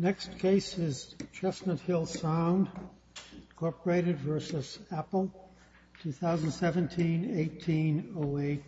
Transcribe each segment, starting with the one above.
2017-18-08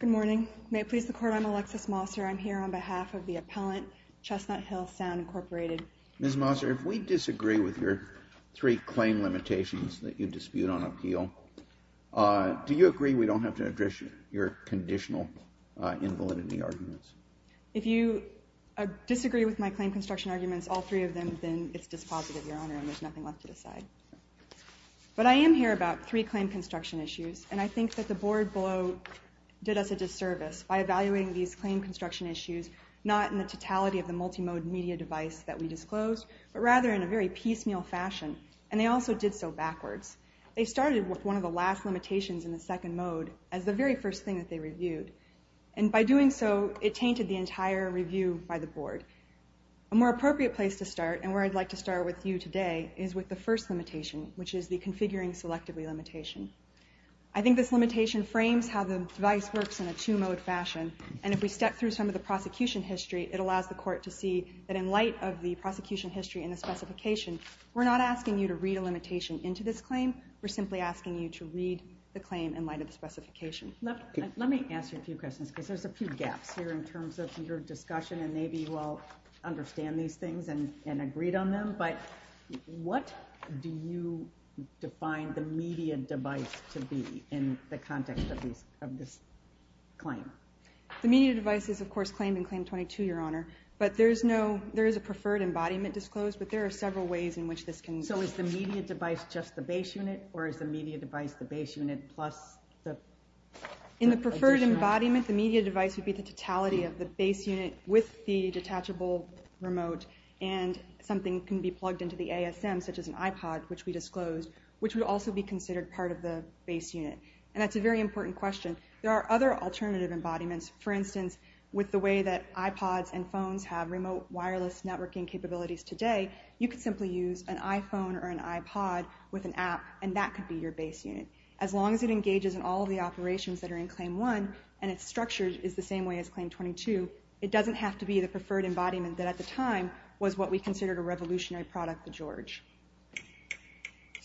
Good morning. May it please the Court, I'm Alexis Mosser. I'm here on behalf of the appellant, Chestnut Hill Sound, Incorporated. Ms. Mosser, if we disagree with your three claim limitations that you dispute on appeal, do you agree we don't have to address your conditional invalidity arguments? If you disagree with my claim construction arguments, all three of them, then it's dispositive, Your Honor, and there's nothing left to decide. But I am here about three claim construction issues, and I think that the board below did us a disservice by evaluating these claim construction issues not in the totality of the multimode media device that we disclosed, but rather in a very piecemeal fashion, and they also did so backwards. They started with one of the last limitations in the second mode as the very first thing that they reviewed, and by doing so, it tainted the entire review by the board. A more appropriate place to start, and where I'd like to start with you today, is with the first limitation, which is the configuring selectively limitation. I think this limitation frames how the device works in a two-mode fashion, and if we step through some of the prosecution history, it allows the court to see that in light of the prosecution history and the specification, we're not asking you to read a limitation into this claim. We're simply asking you to read the claim in light of the specification. Let me ask you a few questions, because there's a few gaps here in terms of your discussion, and maybe you all understand these things and agreed on them, but what do you define the media device to be in the context of this claim? The media device is, of course, claimed in Claim 22, Your Honor, but there is a preferred embodiment disclosed, but there are several ways in which this can be. So is the media device just the base unit, or is the media device the base unit plus the additional? In the preferred embodiment, the media device would be the totality of the base unit with the detachable remote, and something can be plugged into the ASM, such as an iPod, which we disclosed, which would also be considered part of the base unit. That's a very important question. There are other alternative embodiments. For instance, with the way that iPods and iPads work, you can plug in a smartphone or an iPod with an app, and that could be your base unit. As long as it engages in all of the operations that are in Claim 1, and it's structured in the same way as Claim 22, it doesn't have to be the preferred embodiment that at the time was what we considered a revolutionary product of George.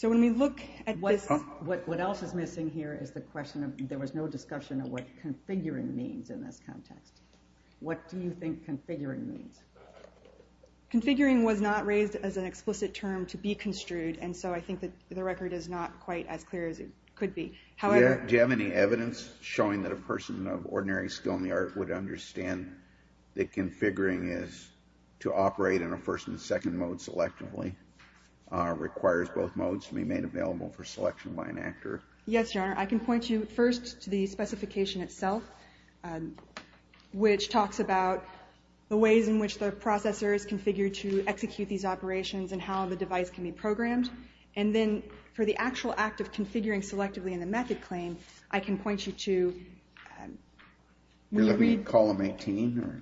What else is missing here is the question of, there was no discussion of what configuring means in this context. What do you think configuring means? Configuring was not raised as an explicit term to be construed, and so I think that the record is not quite as clear as it could be. Do you have any evidence showing that a person of ordinary skill in the art would understand that configuring is to operate in a first and second mode selectively, requires both modes to be made available for selection by an actor? Yes, Your Honor. I can point you first to the specification itself, which talks about the ways in which the processor is configured to execute these operations, and how the device can be programmed. And then for the actual act of configuring selectively in the method claim, I can point you to... Will it be column 18?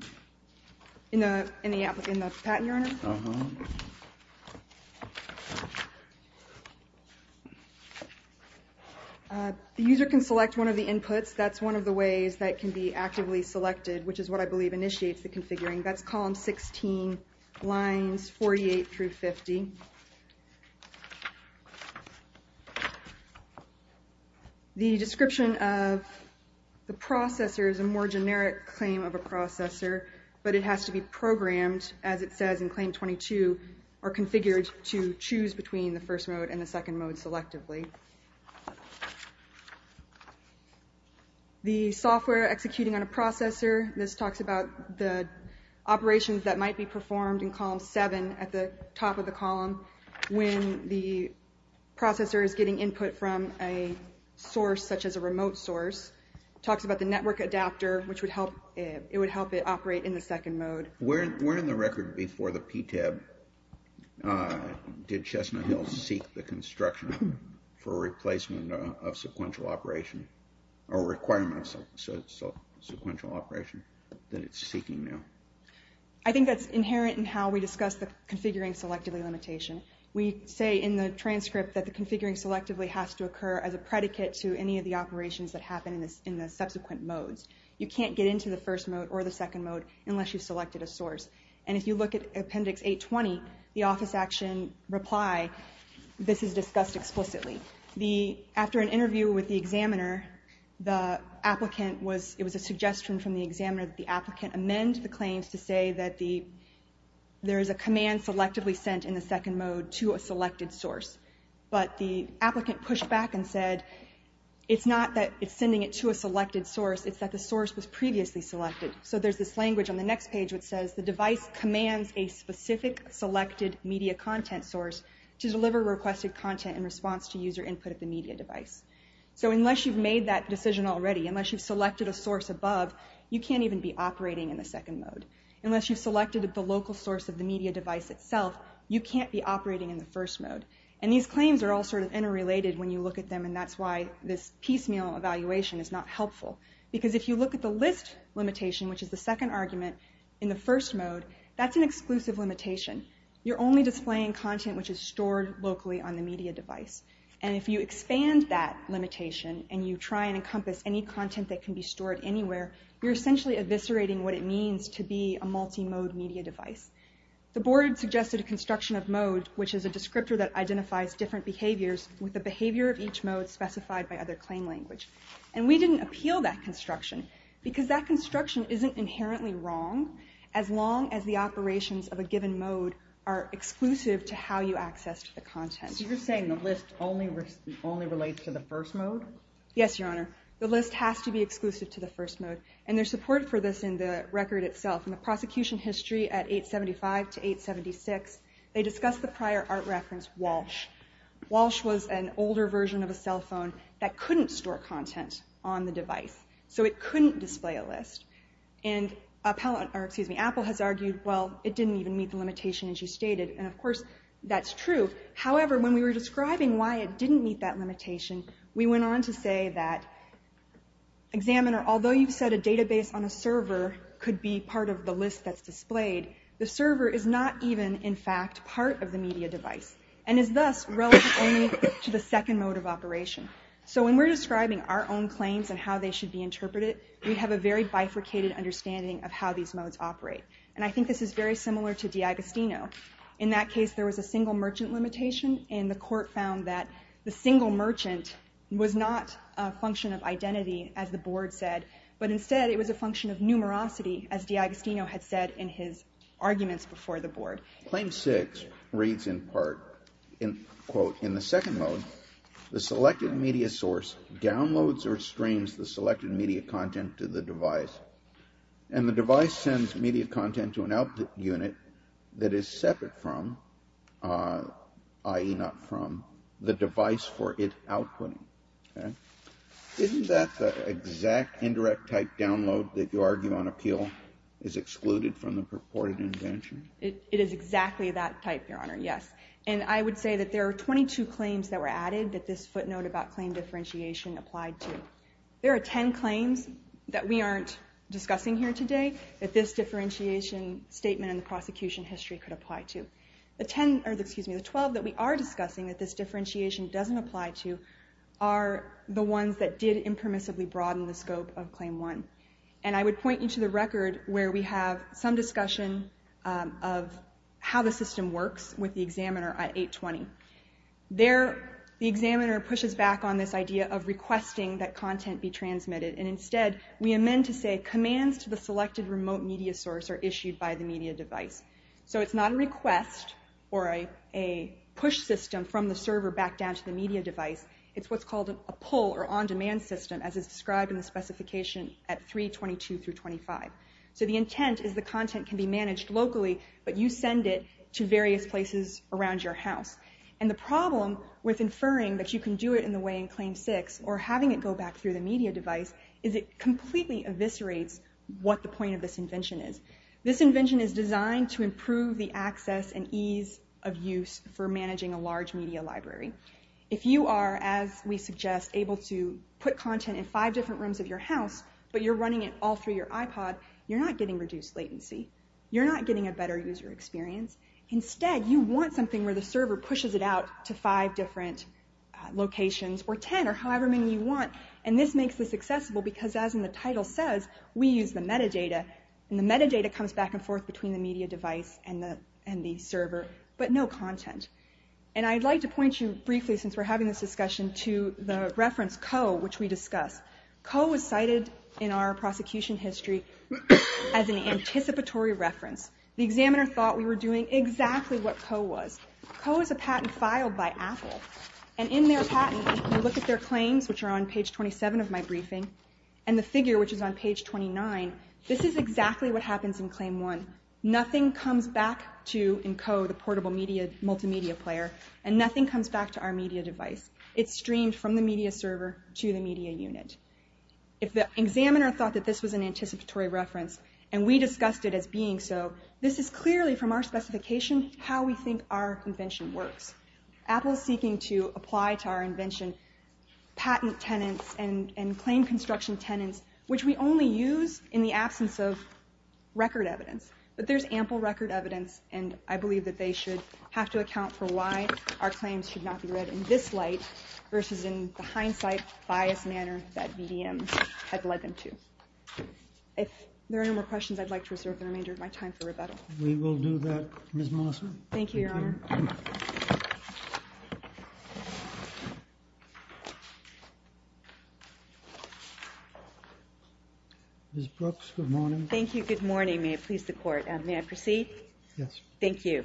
In the patent, Your Honor? The user can select one of the inputs. That's one of the ways that can be actively selected, which is what I believe initiates the configuring. That's column 16, lines 48 through 50. The description of the processor is a more generic claim of a processor, but it has to be programmed, as it says in claim 22, or configured to choose between the first mode and the second mode selectively. The software executing on a processor, this talks about the operations that might be performed in column 7, at the top of the column, when the processor is getting input from a source such as a remote source. It talks about the network adapter, which would help it operate in the second mode. Where in the record before the PTAB did Chestnut Hill seek the construction for replacement of sequential operation, or requirements of sequential operation that it's seeking now? I think that's inherent in how we discuss the configuring selectively limitation. We say in the transcript that the configuring selectively has to occur as a predicate to any of the operations that happen in the subsequent modes. You can't get into the first mode or the second mode unless you've selected a source. If you look at appendix 820, the office action reply, this is discussed explicitly. After an interview with the examiner, it was a suggestion from the examiner that the applicant amend the claims to say that there is a command selectively sent in the second mode to a selected source. But the applicant pushed back and said it's not that it's sending it to a selected source, it's that the source was previously selected. There's this language on the next page that says the device commands a specific selected media content source to deliver requested content in response to user input of the media device. So unless you've made that decision already, unless you've selected a source above, you can't even be operating in the second mode. Unless you've selected the local source of the media device itself, you can't be operating in the first mode. These claims are all interrelated when you look at them, and that's why this piecemeal evaluation is not helpful. Because if you look at the list limitation, which is the second argument in the first mode, that's an exclusive limitation. You're only displaying content which is stored locally on the media device. And if you expand that limitation and you try and encompass any content that can be stored anywhere, you're essentially eviscerating what it means to be a multi-mode media device. The board suggested a construction of mode, which is a descriptor that identifies different behaviors with the behavior of each mode specified by other claim language. And we didn't appeal that construction, because that construction isn't inherently wrong, as long as the operations of a given mode are exclusive to how you access the content. So you're saying the list only relates to the first mode? Yes, Your Honor. The list has to be exclusive to the first mode. And there's support for this in the record itself. In the prosecution history at 875 to 876, they discussed the Walsh was an older version of a cell phone that couldn't store content on the device. So it couldn't display a list. And Apple has argued, well, it didn't even meet the limitation as you stated. And of course, that's true. However, when we were describing why it didn't meet that limitation, we went on to say that, examiner, although you've said a database on a server could be part of the list that's displayed, the server is not even, in fact, part of the media device, and is thus relative only to the second mode of operation. So when we're describing our own claims and how they should be interpreted, we have a very bifurcated understanding of how these modes operate. And I think this is very similar to DiAgostino. In that case, there was a single merchant limitation. And the court found that the single merchant was not a function of identity, as the board said. But instead, it was a function of numerosity, as DiAgostino had said in his arguments before the board. Claim six reads in part, in quote, in the second mode, the selected media source downloads or streams the selected media content to the device. And the device sends media content to an output unit that is separate from, i.e. not from, the device for it outputting. Isn't that the exact indirect type download that you argue on appeal is excluded from the purported invention? It is exactly that type, Your Honor, yes. And I would say that there are 22 claims that were added that this footnote about claim differentiation applied to. There are 10 claims that we aren't discussing here today that this differentiation statement in the prosecution history could apply to. The 12 that we are discussing that this differentiation doesn't apply to are the ones that did impermissibly broaden the scope of claim one. And I would of how the system works with the examiner at 820. There, the examiner pushes back on this idea of requesting that content be transmitted. And instead, we amend to say, commands to the selected remote media source are issued by the media device. So it's not a request or a push system from the server back down to the media device. It's what's called a pull or on-demand system, as is described in the specification at 322 through 25. So the intent is the content can be managed locally, but you send it to various places around your house. And the problem with inferring that you can do it in the way in claim six or having it go back through the media device is it completely eviscerates what the point of this invention is. This invention is designed to improve the access and ease of use for managing a large media library. If you are, as we suggest, able to put content in five different rooms of your house, but you're running it all through your iPod, you're not getting reduced latency. You're not getting a better user experience. Instead, you want something where the server pushes it out to five different locations, or 10, or however many you want. And this makes this accessible because, as in the title says, we use the metadata. And the metadata comes back and forth between the media device and the server, but no content. And I'd like to point you, briefly, since we're having this discussion, to the reference, Co, which we discussed. Co was cited in our prosecution history as an anticipatory reference. The examiner thought we were doing exactly what Co was. Co is a patent filed by Apple. And in their patent, if you look at their claims, which are on page 27 of my briefing, and the figure, which is on page 29, this is exactly what happens in claim one. Nothing comes back to, in Co, the portable multimedia player, and nothing comes back to our media device. It's streamed from the media server to the media unit. If the examiner thought that this was an anticipatory reference, and we discussed it as being so, this is clearly, from our specification, how we think our invention works. Apple is seeking to apply to our invention patent tenants and claim construction tenants, which we only use in the absence of record evidence. But there's ample record evidence, and I believe that they should have to account for why our claims should not be read in this light, versus in the hindsight, biased manner that BDM had led them to. If there are no more questions, I'd like to reserve the remainder of my time for rebuttal. We will do that, Ms. Melissa. Thank you, Your Honor. Ms. Brooks, good morning. Thank you, good morning. May it please the Court. May I proceed? Yes. Thank you.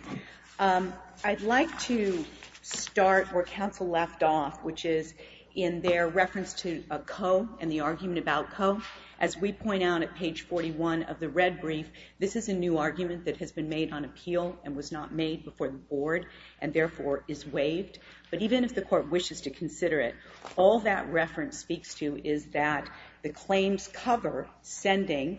I'd like to start where counsel left off, which is in their reference to Coe and the argument about Coe. As we point out at page 41 of the red brief, this is a new argument that has been made on appeal and was not made before the Board, and therefore is waived. But even if the Court wishes to consider it, all that reference speaks to is that the claims cover sending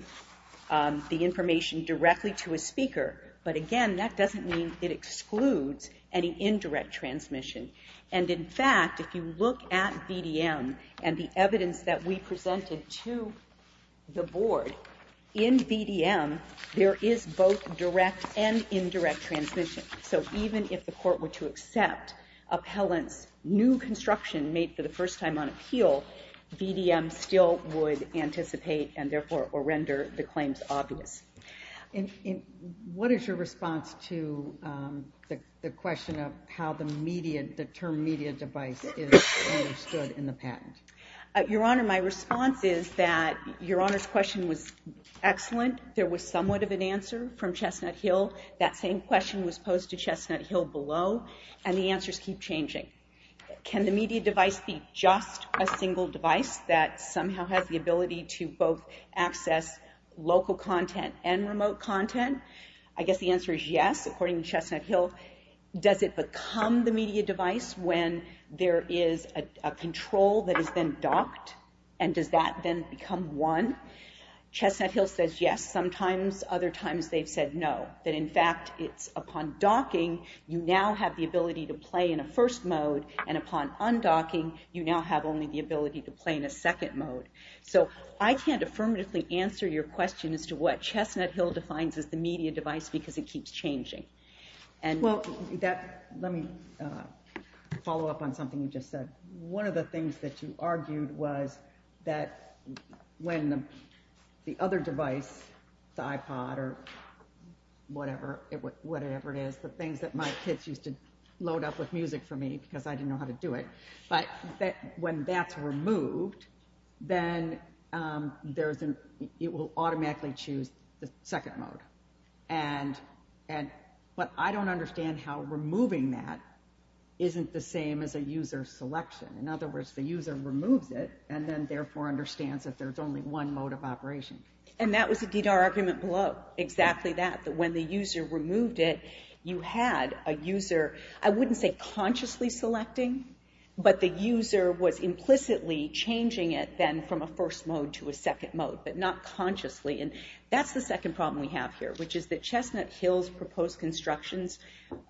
the information directly to a speaker. But again, that doesn't mean it excludes any indirect transmission. And in fact, if you look at BDM and the evidence that we presented to the Board, in BDM there is both direct and indirect transmission. So even if the Court were to accept appellant's new construction made for the first time on BDM, BDM still would anticipate and therefore or render the claims obvious. What is your response to the question of how the term media device is understood in the patent? Your Honor, my response is that Your Honor's question was excellent. There was somewhat of an answer from Chestnut Hill. That same question was posed to Chestnut Hill below, and the answers keep changing. Can the media device be just a single device that somehow has the ability to both access local content and remote content? I guess the answer is yes. According to Chestnut Hill, does it become the media device when there is a control that is then docked? And does that then become one? Chestnut Hill says yes. Sometimes other times they've said no. That in fact, it's upon docking, you now have the ability to play in a first mode, and upon undocking, you now have only the ability to play in a second mode. So I can't affirmatively answer your question as to what Chestnut Hill defines as the media device because it keeps changing. Let me follow up on something you just said. One of the things that you argued was that when the other device, the iPod or whatever it is, the things that my kids used to load up with music for me because I didn't know how to do it, but when that's removed, then it will automatically choose the second mode. But I don't understand how removing that isn't the same as a user selection. In other words, the user removes it and then therefore understands that there's only one mode of operation. And that was a DDAR argument below, exactly that, that when the user removed it, you had a user, I wouldn't say consciously selecting, but the user was implicitly changing it then from a first mode to a second mode, but not consciously. And that's the second problem we have here, which is that Chestnut Hill's proposed constructions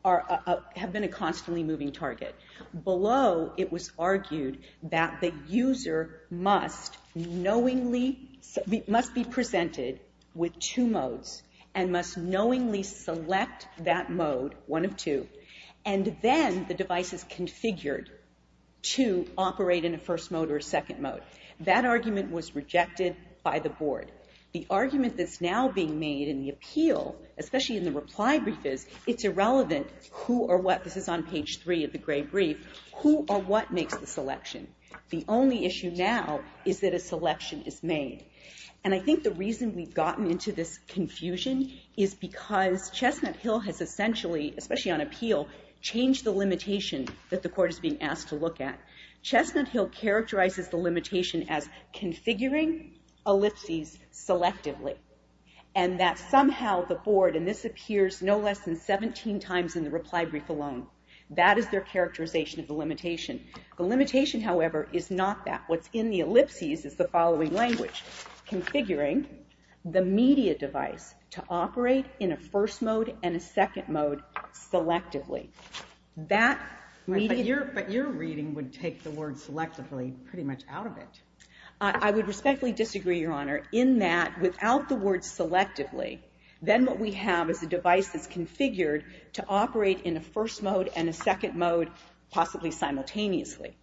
have been a constantly moving target. Below, it was argued that the user must knowingly, must be presented with two modes and must knowingly select that mode, one of two, and then the device is configured to operate in a first mode or a second mode. That argument was rejected by the board. The argument that's now being made in the appeal, especially in the reply brief is, it's irrelevant who or what, this is on page three of the gray brief, who or what makes the selection. The only issue now is that a selection is made. And I think the reason we've gotten into this confusion is because Chestnut Hill has essentially, especially on appeal, changed the limitation that the court is being asked to look at. Chestnut Hill characterizes the limitation as configuring ellipses selectively. And that is 17 times in the reply brief alone. That is their characterization of the limitation. The limitation, however, is not that. What's in the ellipses is the following language, configuring the media device to operate in a first mode and a second mode selectively. That media... But your reading would take the word selectively pretty much out of it. I would respectfully disagree, Your Honor, in that without the word selectively, then what we have is a device that's configured to operate in a first mode and a second mode, possibly simultaneously.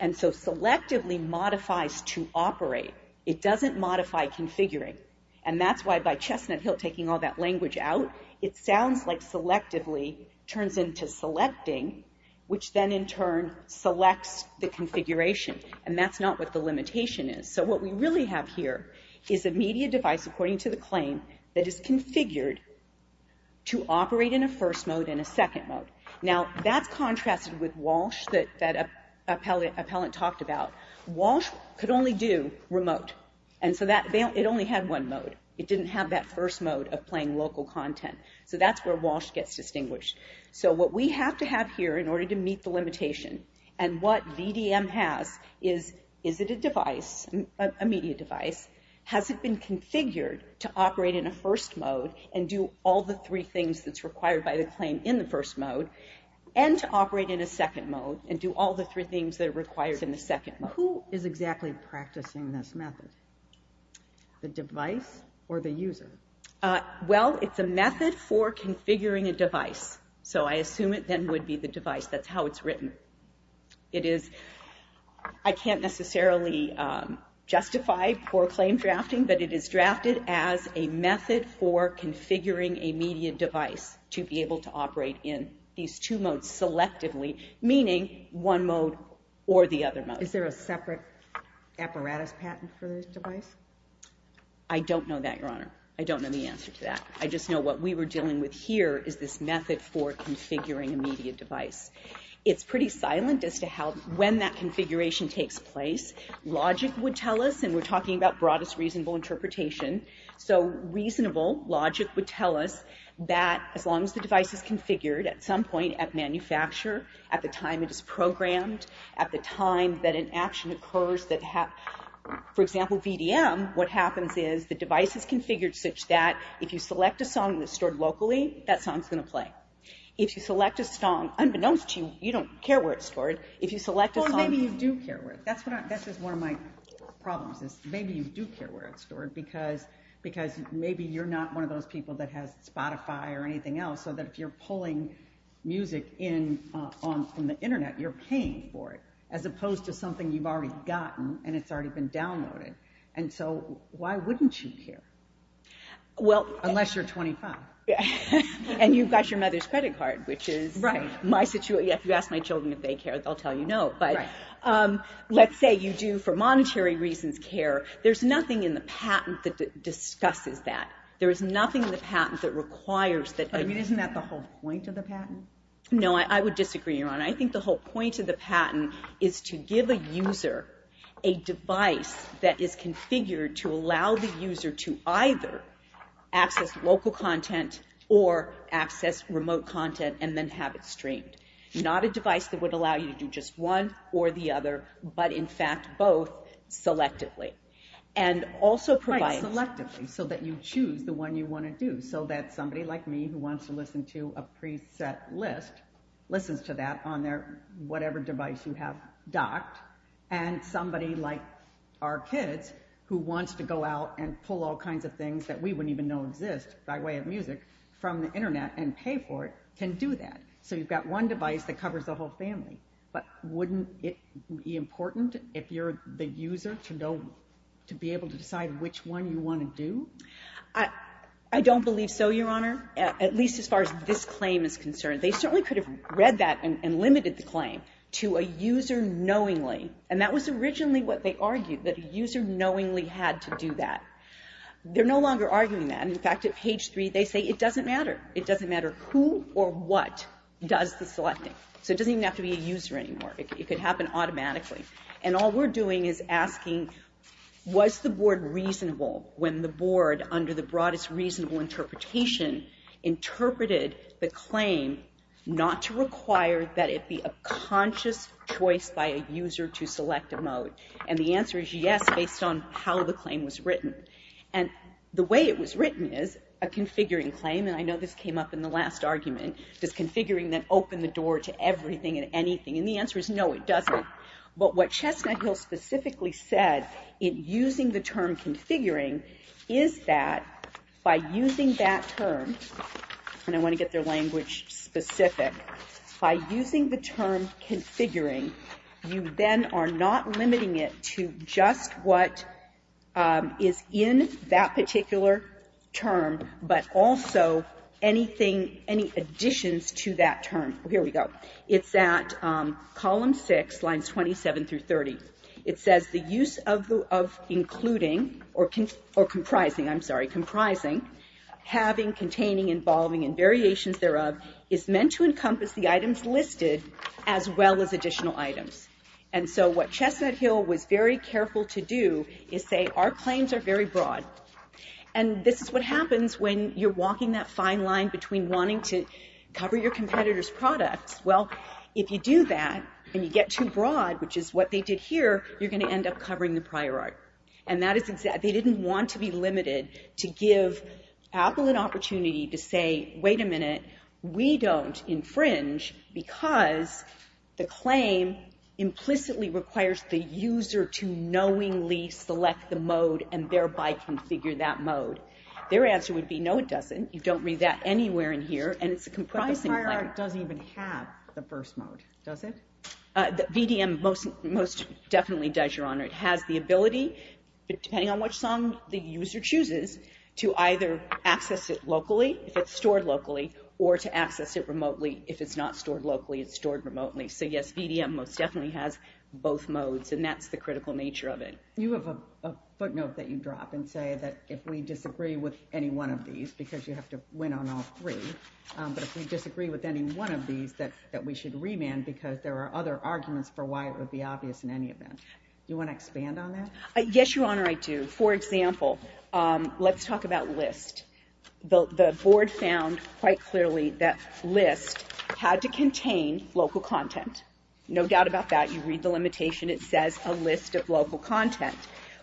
And so selectively modifies to operate. It doesn't modify configuring. And that's why by Chestnut Hill taking all that language out, it sounds like selectively turns into selecting, which then in turn selects the configuration. And that's not what the limitation is. So what we really have here is a media device, according to the claim, that is configured to operate in a first mode and a second mode. Now, that's contrasted with Walsh that Appellant talked about. Walsh could only do remote. And so it only had one mode. It didn't have that first mode of playing local content. So that's where Walsh gets distinguished. So what we have to have here in order to meet the limitation and what VDM has is, is it a device, a media device? Has it been configured to operate in a first mode and do all the three things that's required by the claim in the first mode, and to operate in a second mode and do all the three things that are required in the second mode? Who is exactly practicing this method? The device or the user? Well, it's a method for configuring a device. So I assume it then would be the device. That's I can't necessarily justify poor claim drafting, but it is drafted as a method for configuring a media device to be able to operate in these two modes selectively, meaning one mode or the other mode. Is there a separate apparatus patent for this device? I don't know that, Your Honor. I don't know the answer to that. I just know what we were dealing with here is this method for configuring a media device. It's pretty silent as to how, when that configuration takes place. Logic would tell us, and we're talking about broadest reasonable interpretation, so reasonable logic would tell us that as long as the device is configured at some point at manufacture, at the time it is programmed, at the time that an action occurs that, for example, VDM, what happens is the device is configured such that if you select a song that's stored locally, that song is going to play. If you select a song, unbeknownst to you, you don't care where it's stored. If you select a song... Or maybe you do care where it's stored. That's just one of my problems is maybe you do care where it's stored because maybe you're not one of those people that has Spotify or anything else so that if you're pulling music in from the internet, you're paying for it as opposed to something you've already gotten and it's already been downloaded. And so why wouldn't you care? Unless you're 25. And you've got your mother's credit card, which is my situation. If you ask my children if they care, they'll tell you no. But let's say you do, for monetary reasons, care. There's nothing in the patent that discusses that. There is nothing in the patent that requires that... I mean, isn't that the whole point of the patent? No, I would disagree, Your Honor. I think the whole point of the patent is to give a device that is configured to allow the user to either access local content or access remote content and then have it streamed. Not a device that would allow you to do just one or the other, but in fact, both selectively. And also provide selectively so that you choose the one you want to do so that somebody like me who wants to listen to a preset list listens to that on their whatever device you have docked, and somebody like our kids who wants to go out and pull all kinds of things that we wouldn't even know exist by way of music from the Internet and pay for it can do that. So you've got one device that covers the whole family. But wouldn't it be important if you're the user to know, to be able to decide which one you want to do? I don't believe so, Your Honor, at least as far as this claim is concerned. They certainly could have read that and limited the claim to a user knowingly, and that was originally what they argued, that a user knowingly had to do that. They're no longer arguing that. In fact, at page three, they say it doesn't matter. It doesn't matter who or what does the selecting. So it doesn't even have to be a user anymore. It could happen automatically. And all we're doing is asking, was the Board reasonable when the Board, under the broadest reasonable interpretation, interpreted the claim not to require that it be a conscious choice by a user to select a mode? And the answer is yes, based on how the claim was written. And the way it was written is a configuring claim, and I know this came up in the last argument. Does configuring then open the door to everything and anything? And the answer is no, it doesn't. But what Chestnut Hill specifically said in using the term configuring is that by using that term, and I want to get their language specific, by using the term configuring, you then are not limiting it to just what is in that particular term, but also anything, any additions to that term. Here we go. It's at column six, lines 27 through 30. It says the use of including, or comprising, I'm sorry, comprising, having, containing, involving, and variations thereof is meant to encompass the items listed as well as additional items. And so what Chestnut Hill was very careful to do is say our claims are very broad. And this is what happens when you're walking that fine line between wanting to cover your prior art and wanting to cover your prior art. And that is exactly, they didn't want to be limited to give Apple an opportunity to say, wait a minute, we don't infringe because the claim implicitly requires the user to knowingly select the mode and thereby configure that mode. Their answer would be no, it doesn't. You don't read that anywhere in here, and it's a comprising claim. That doesn't even have the first mode, does it? The VDM most definitely does, Your Honor. It has the ability, depending on which song the user chooses, to either access it locally, if it's stored locally, or to access it remotely if it's not stored locally, it's stored remotely. So yes, VDM most definitely has both modes, and that's the critical nature of it. You have a footnote that you drop and say that if we disagree with any one of these, because you have to win on all three, but if we disagree with any one of these, that we should remand because there are other arguments for why it would be obvious in any event. You want to expand on that? Yes, Your Honor, I do. For example, let's talk about list. The Board found quite clearly that list had to contain local content. No doubt about that. You read the limitation, it says a list of local content,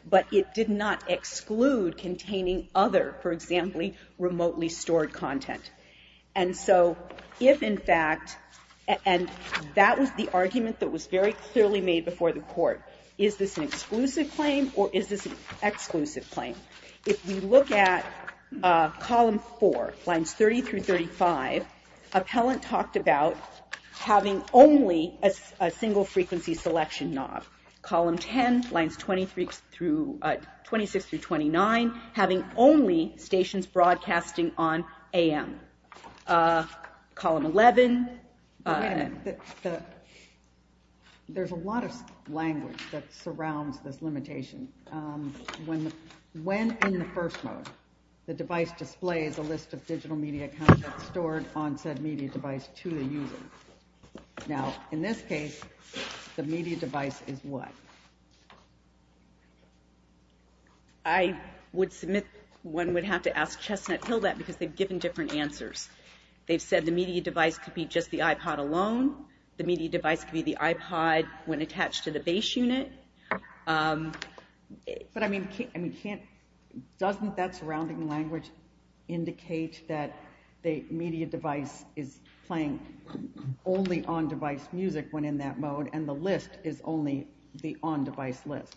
but it did not exclude containing other, for example, remotely stored content. And so, if in fact, and that was the argument that was very clearly made before the Court. Is this an exclusive claim, or is this an exclusive claim? If we look at column four, lines 30 through 35, appellant talked about having only a single frequency selection knob. Column 10, lines 26 through 29, having only stations broadcasting on AM. Column 11. There's a lot of language that surrounds this limitation. When in the first mode, the device displays a list of digital media content stored on said media device to the user. Now, in this case, the media device is what? I would submit one would have to ask Chestnut-Hill that, because they've given different answers. They've said the media device could be just the iPod alone. The media device could be the iPod when attached to the base unit. But I mean, doesn't that surrounding language indicate that the media device is playing only on-device music when in that mode, and the list is only the on-device list?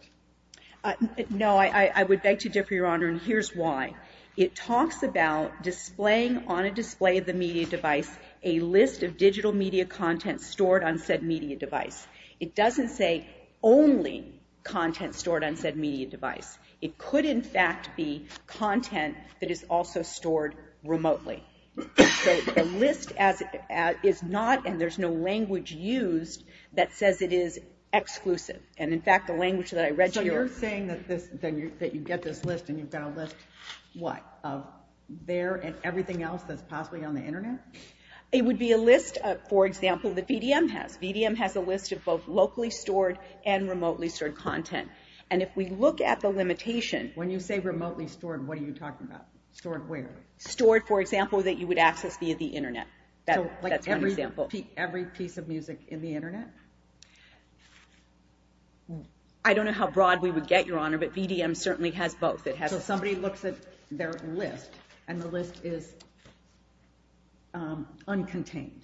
No, I would beg to differ, Your Honor, and here's why. It talks about displaying on a display of the media device a list of digital media content stored on said media device. It doesn't say only content stored on said media device. It could, in fact, be content that is also stored remotely. So, the list is not, and there's no language used that says it is exclusive. And, in fact, the language that I read here... So, you're saying that you get this list and you've got a list, what, of there and everything else that's possibly on the Internet? It would be a list, for example, that VDM has. VDM has a list of both locally stored and remotely stored content. And if we look at the limitation... When you say remotely stored, what are you talking about? Stored where? Stored, for example, that you would access via the Internet. That's one example. So, like every piece of music in the Internet? I don't know how broad we would get, Your Honor, but VDM certainly has both. It has... So, somebody looks at their list and the list is uncontained.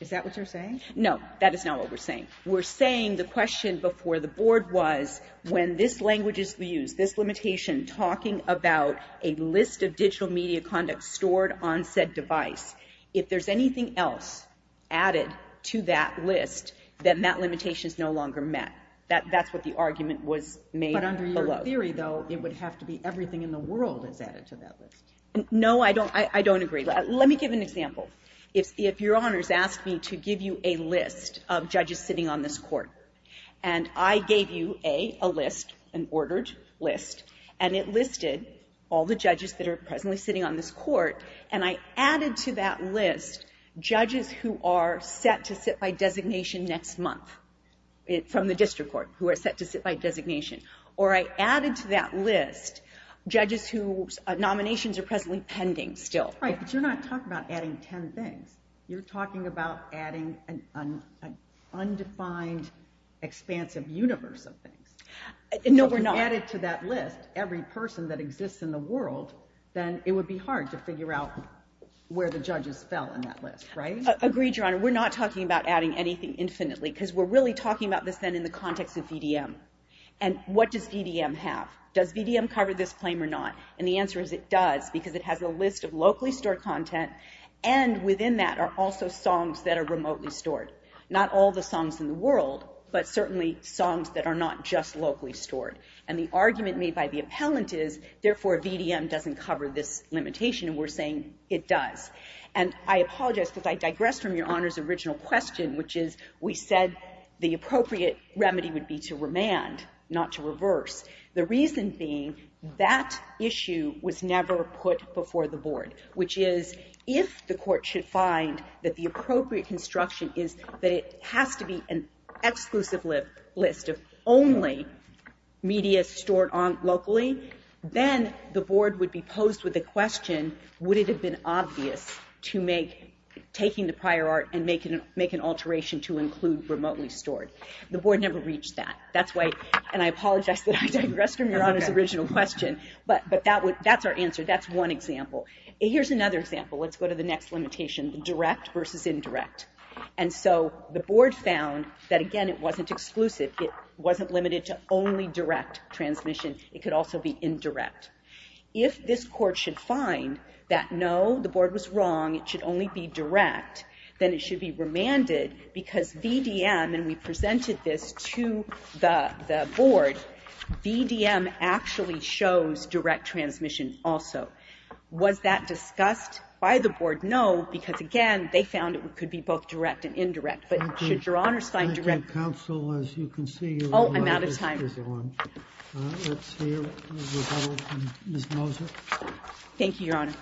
Is that what you're saying? No, that is not what we're saying. We're saying the question before the Board was, when this language is used, this limitation, talking about a list of digital media content stored on said device, if there's anything else added to that list, then that limitation is no longer met. That's what the argument was made below. But under your theory, though, it would have to be everything in the world is added to that list. No, I don't agree. Let me give an example. If Your Honor has asked me to give you a list of judges sitting on this Court, and I gave you a list, an ordered list, and it listed all the judges that are presently sitting on this Court, and I added to that list judges who are set to sit by designation next month, from the District Court, who are set to sit by designation, or I added to that list judges whose nominations are presently pending still. That's right, but you're not talking about adding ten things. You're talking about adding an undefined, expansive universe of things. No, we're not. If you added to that list every person that exists in the world, then it would be hard to figure out where the judges fell in that list, right? Agreed, Your Honor. We're not talking about adding anything infinitely, because we're really talking about this then in the context of VDM. And what does VDM have? Does VDM cover this claim or not? And the answer is it does, because it has a list of locally stored content, and within that are also songs that are remotely stored. Not all the songs in the world, but certainly songs that are not just locally stored. And the argument made by the appellant is, therefore, VDM doesn't cover this limitation, and we're saying it does. And I apologize, because I digress from Your Honor's original question, which is, we said the appropriate remedy would be to remand, not to reverse, the reason being that issue was never put before the board, which is, if the court should find that the appropriate construction is that it has to be an exclusive list of only media stored locally, then the board would be posed with the question, would it have been obvious to make taking the prior part, and make an alteration to include remotely stored? The board never reached that. And I apologize that I digress from Your Honor's original question, but that's our answer. That's one example. Here's another example. Let's go to the next limitation, direct versus indirect. And so the board found that, again, it wasn't exclusive. It wasn't limited to only direct transmission. It could also be indirect. If this court should find that no, the board was wrong, it should only be direct, then it should be remanded, because VDM, and we presented this to the board, VDM actually shows direct transmission also. Was that discussed by the board? No, because, again, they found it could be both direct and indirect. But should Your Honor's find direct transmission? Thank you. Counsel, as you can see, you're running out of time. Oh, I'm out of time. Let's hear Ms. Moser. Thank you, Your Honor. Thank you, Your Honor.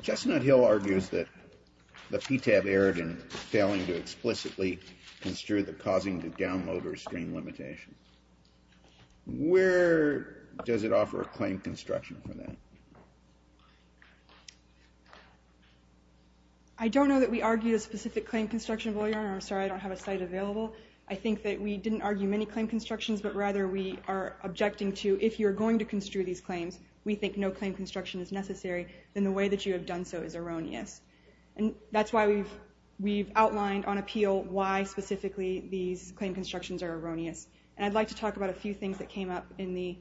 Chestnut Hill argues that the PTAB erred in failing to explicitly construe the causing to download or screen limitation. Where does it offer a claim construction for that? I don't know that we argue a specific claim construction, Your Honor. I'm sorry, I don't have a site available. I think that we didn't argue many claim constructions, but rather we are objecting to, if you're going to construe these claims, we think no claim construction is necessary, then the way that you have done so is erroneous. And that's why we've outlined on appeal why specifically these claim constructions are erroneous. And I'd like to talk about a few things that came up in the...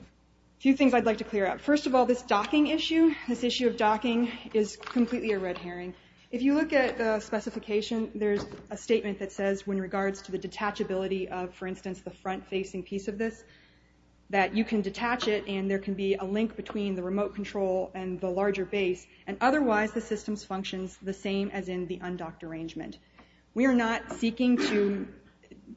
a few things I'd like to clear up. First of all, this docking issue, this issue of docking is completely a red herring. If you look at the specification, there's a statement that says, when regards to the detachability of, for instance, the front-facing piece of this, that you can detach it and there can be a link between the remote control and the larger base, and otherwise the system functions the same as in the undocked arrangement. We are not seeking to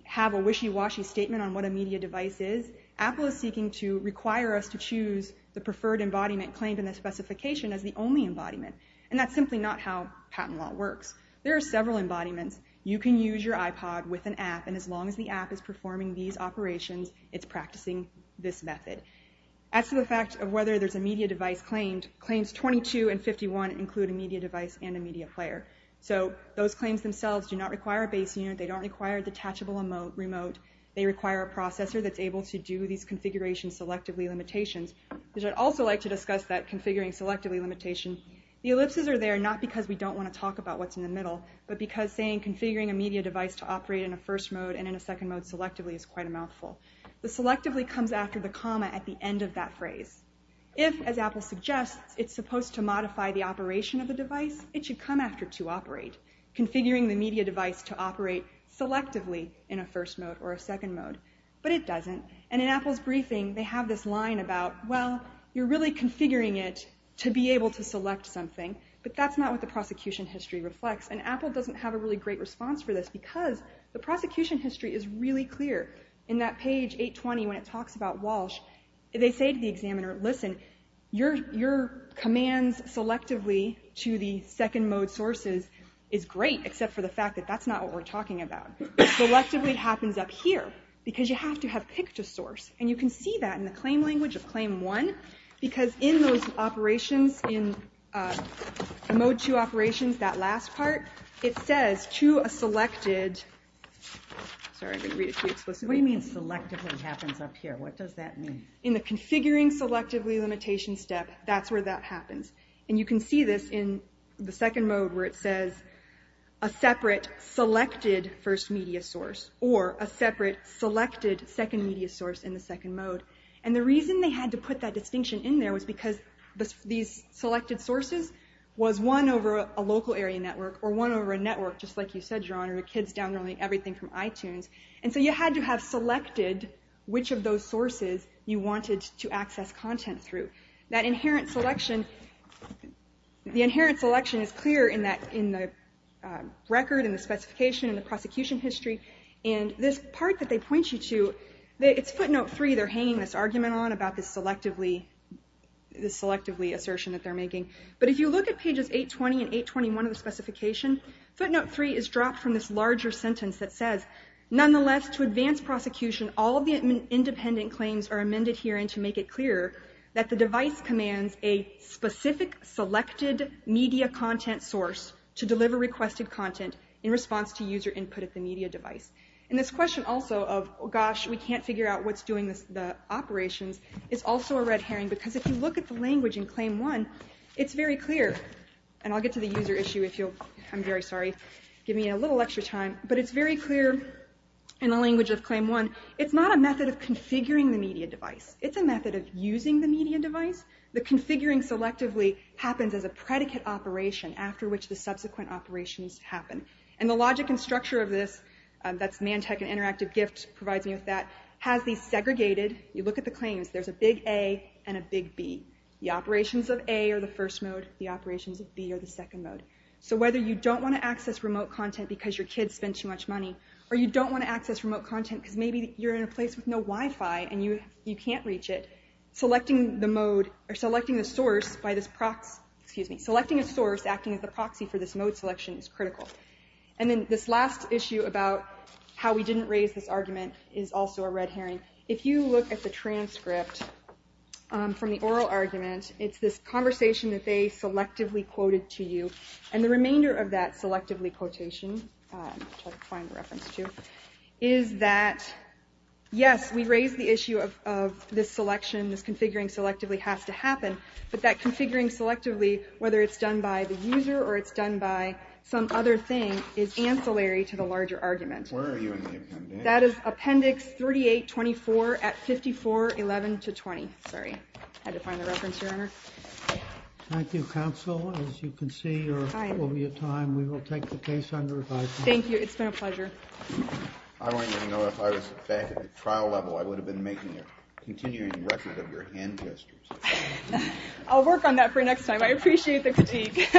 have a wishy-washy statement on what a media device is. Apple is seeking to require us to choose the preferred embodiment claimed in the specification as the only embodiment. And that's simply not how patent law works. There are several embodiments. You can use your iPod with an app, and as long as the app is performing these operations, it's practicing this method. As to the fact of whether there's a media device claimed, claims 22 and 51 include a media device and a media player. So those claims themselves do not require a base unit. They don't require a detachable remote. They require a processor that's able to do these configuration selectively limitations. I'd also like to discuss that configuring selectively limitation. The ellipses are there not because we don't want to talk about what's in the middle, but because saying, configuring a media device to operate in a first mode and in a second mode selectively is quite a mouthful. The selectively comes after the comma at the end of that phrase. If, as Apple suggests, it's supposed to modify the operation of the device, it should come after to operate. Configuring the media device to operate selectively in a first mode or a second mode, but it doesn't. And in Apple's briefing, they have this line about, well, you're really configuring it to be able to select something, but that's not what the prosecution history reflects. And Apple doesn't have a really great response for this because the prosecution history is really clear. In that page 820, when it talks about Walsh, they say to the examiner, listen, your commands selectively to the second mode sources is great, except for the fact that that's not what we're talking about. Selectively happens up here because you have to have picked a source. And you can see that in the claim language of claim 1 because in those operations, in the mode 2 operations, that last part, it says to a selected... Sorry, I'm going to read it too explicitly. What do you mean selectively happens up here? What does that mean? In the configuring selectively limitation step, that's where that happens. And you can see this in the second mode where it says a separate selected first media source or a separate selected second media source in the second mode. And the reason they had to put that distinction in there was because these selected sources was one over a local area network or one over a network, just like you said, John, or the kids downloading everything from iTunes. And so you had to have selected which of those sources you wanted to access content through. That inherent selection, the inherent selection is clear in the record, in the specification, in the prosecution history. And this part that they point you to, it's footnote 3 they're hanging this argument on about this selectively assertion that they're making. But if you look at pages 820 and 821 of the specification, footnote 3 is dropped from this larger sentence that says, nonetheless, to advance prosecution, all of the independent claims are amended herein to make it clear that the device commands a specific selected media content source to deliver requested content in response to user input at the media device. And this question also of, gosh, we can't figure out what's doing the operations, is also a red herring. Because if you look at the language in claim 1, it's very clear, and I'll get to the user issue if you'll, I'm very sorry, give me a little extra time, but it's very clear in the language of claim 1, it's not a method of configuring the media device. It's a method of using the media device. The configuring selectively happens as a predicate operation after which the subsequent operations happen. And the logic and structure of this, that's Mantec and Interactive Gift provides me with that, has these segregated, you look at the claims, there's a big A and a big B. The operations of A are the first mode, the operations of B are the second mode. So whether you don't want to access remote content because your kids spend too much money, or you don't want to access remote content because maybe you're in a place with no Wi-Fi and you can't reach it, selecting the mode, or selecting the source by this, excuse me, selecting a source acting as the proxy for this mode selection is critical. And then this last issue about how we didn't raise this argument is also a red herring. If you look at the transcript from the oral argument, it's this conversation that they selectively quoted to you. And the remainder of that selectively quotation, which I'll find the reference to, is that, yes, we raised the issue of this selection, this configuring selectively has to happen, but that configuring selectively, whether it's done by the user or it's done by some other thing, is ancillary to the larger argument. Where are you in the appendix? That is appendix 3824 at 5411 to 20. Sorry, I had to find the reference here, Honor. Thank you, Counsel. As you can see, there will be a time we will take the case under review. Thank you. It's been a pleasure. I wouldn't even know if I was back at the trial level. I would have been making a continuing record of your hand gestures. I'll work on that for next time. I appreciate the critique.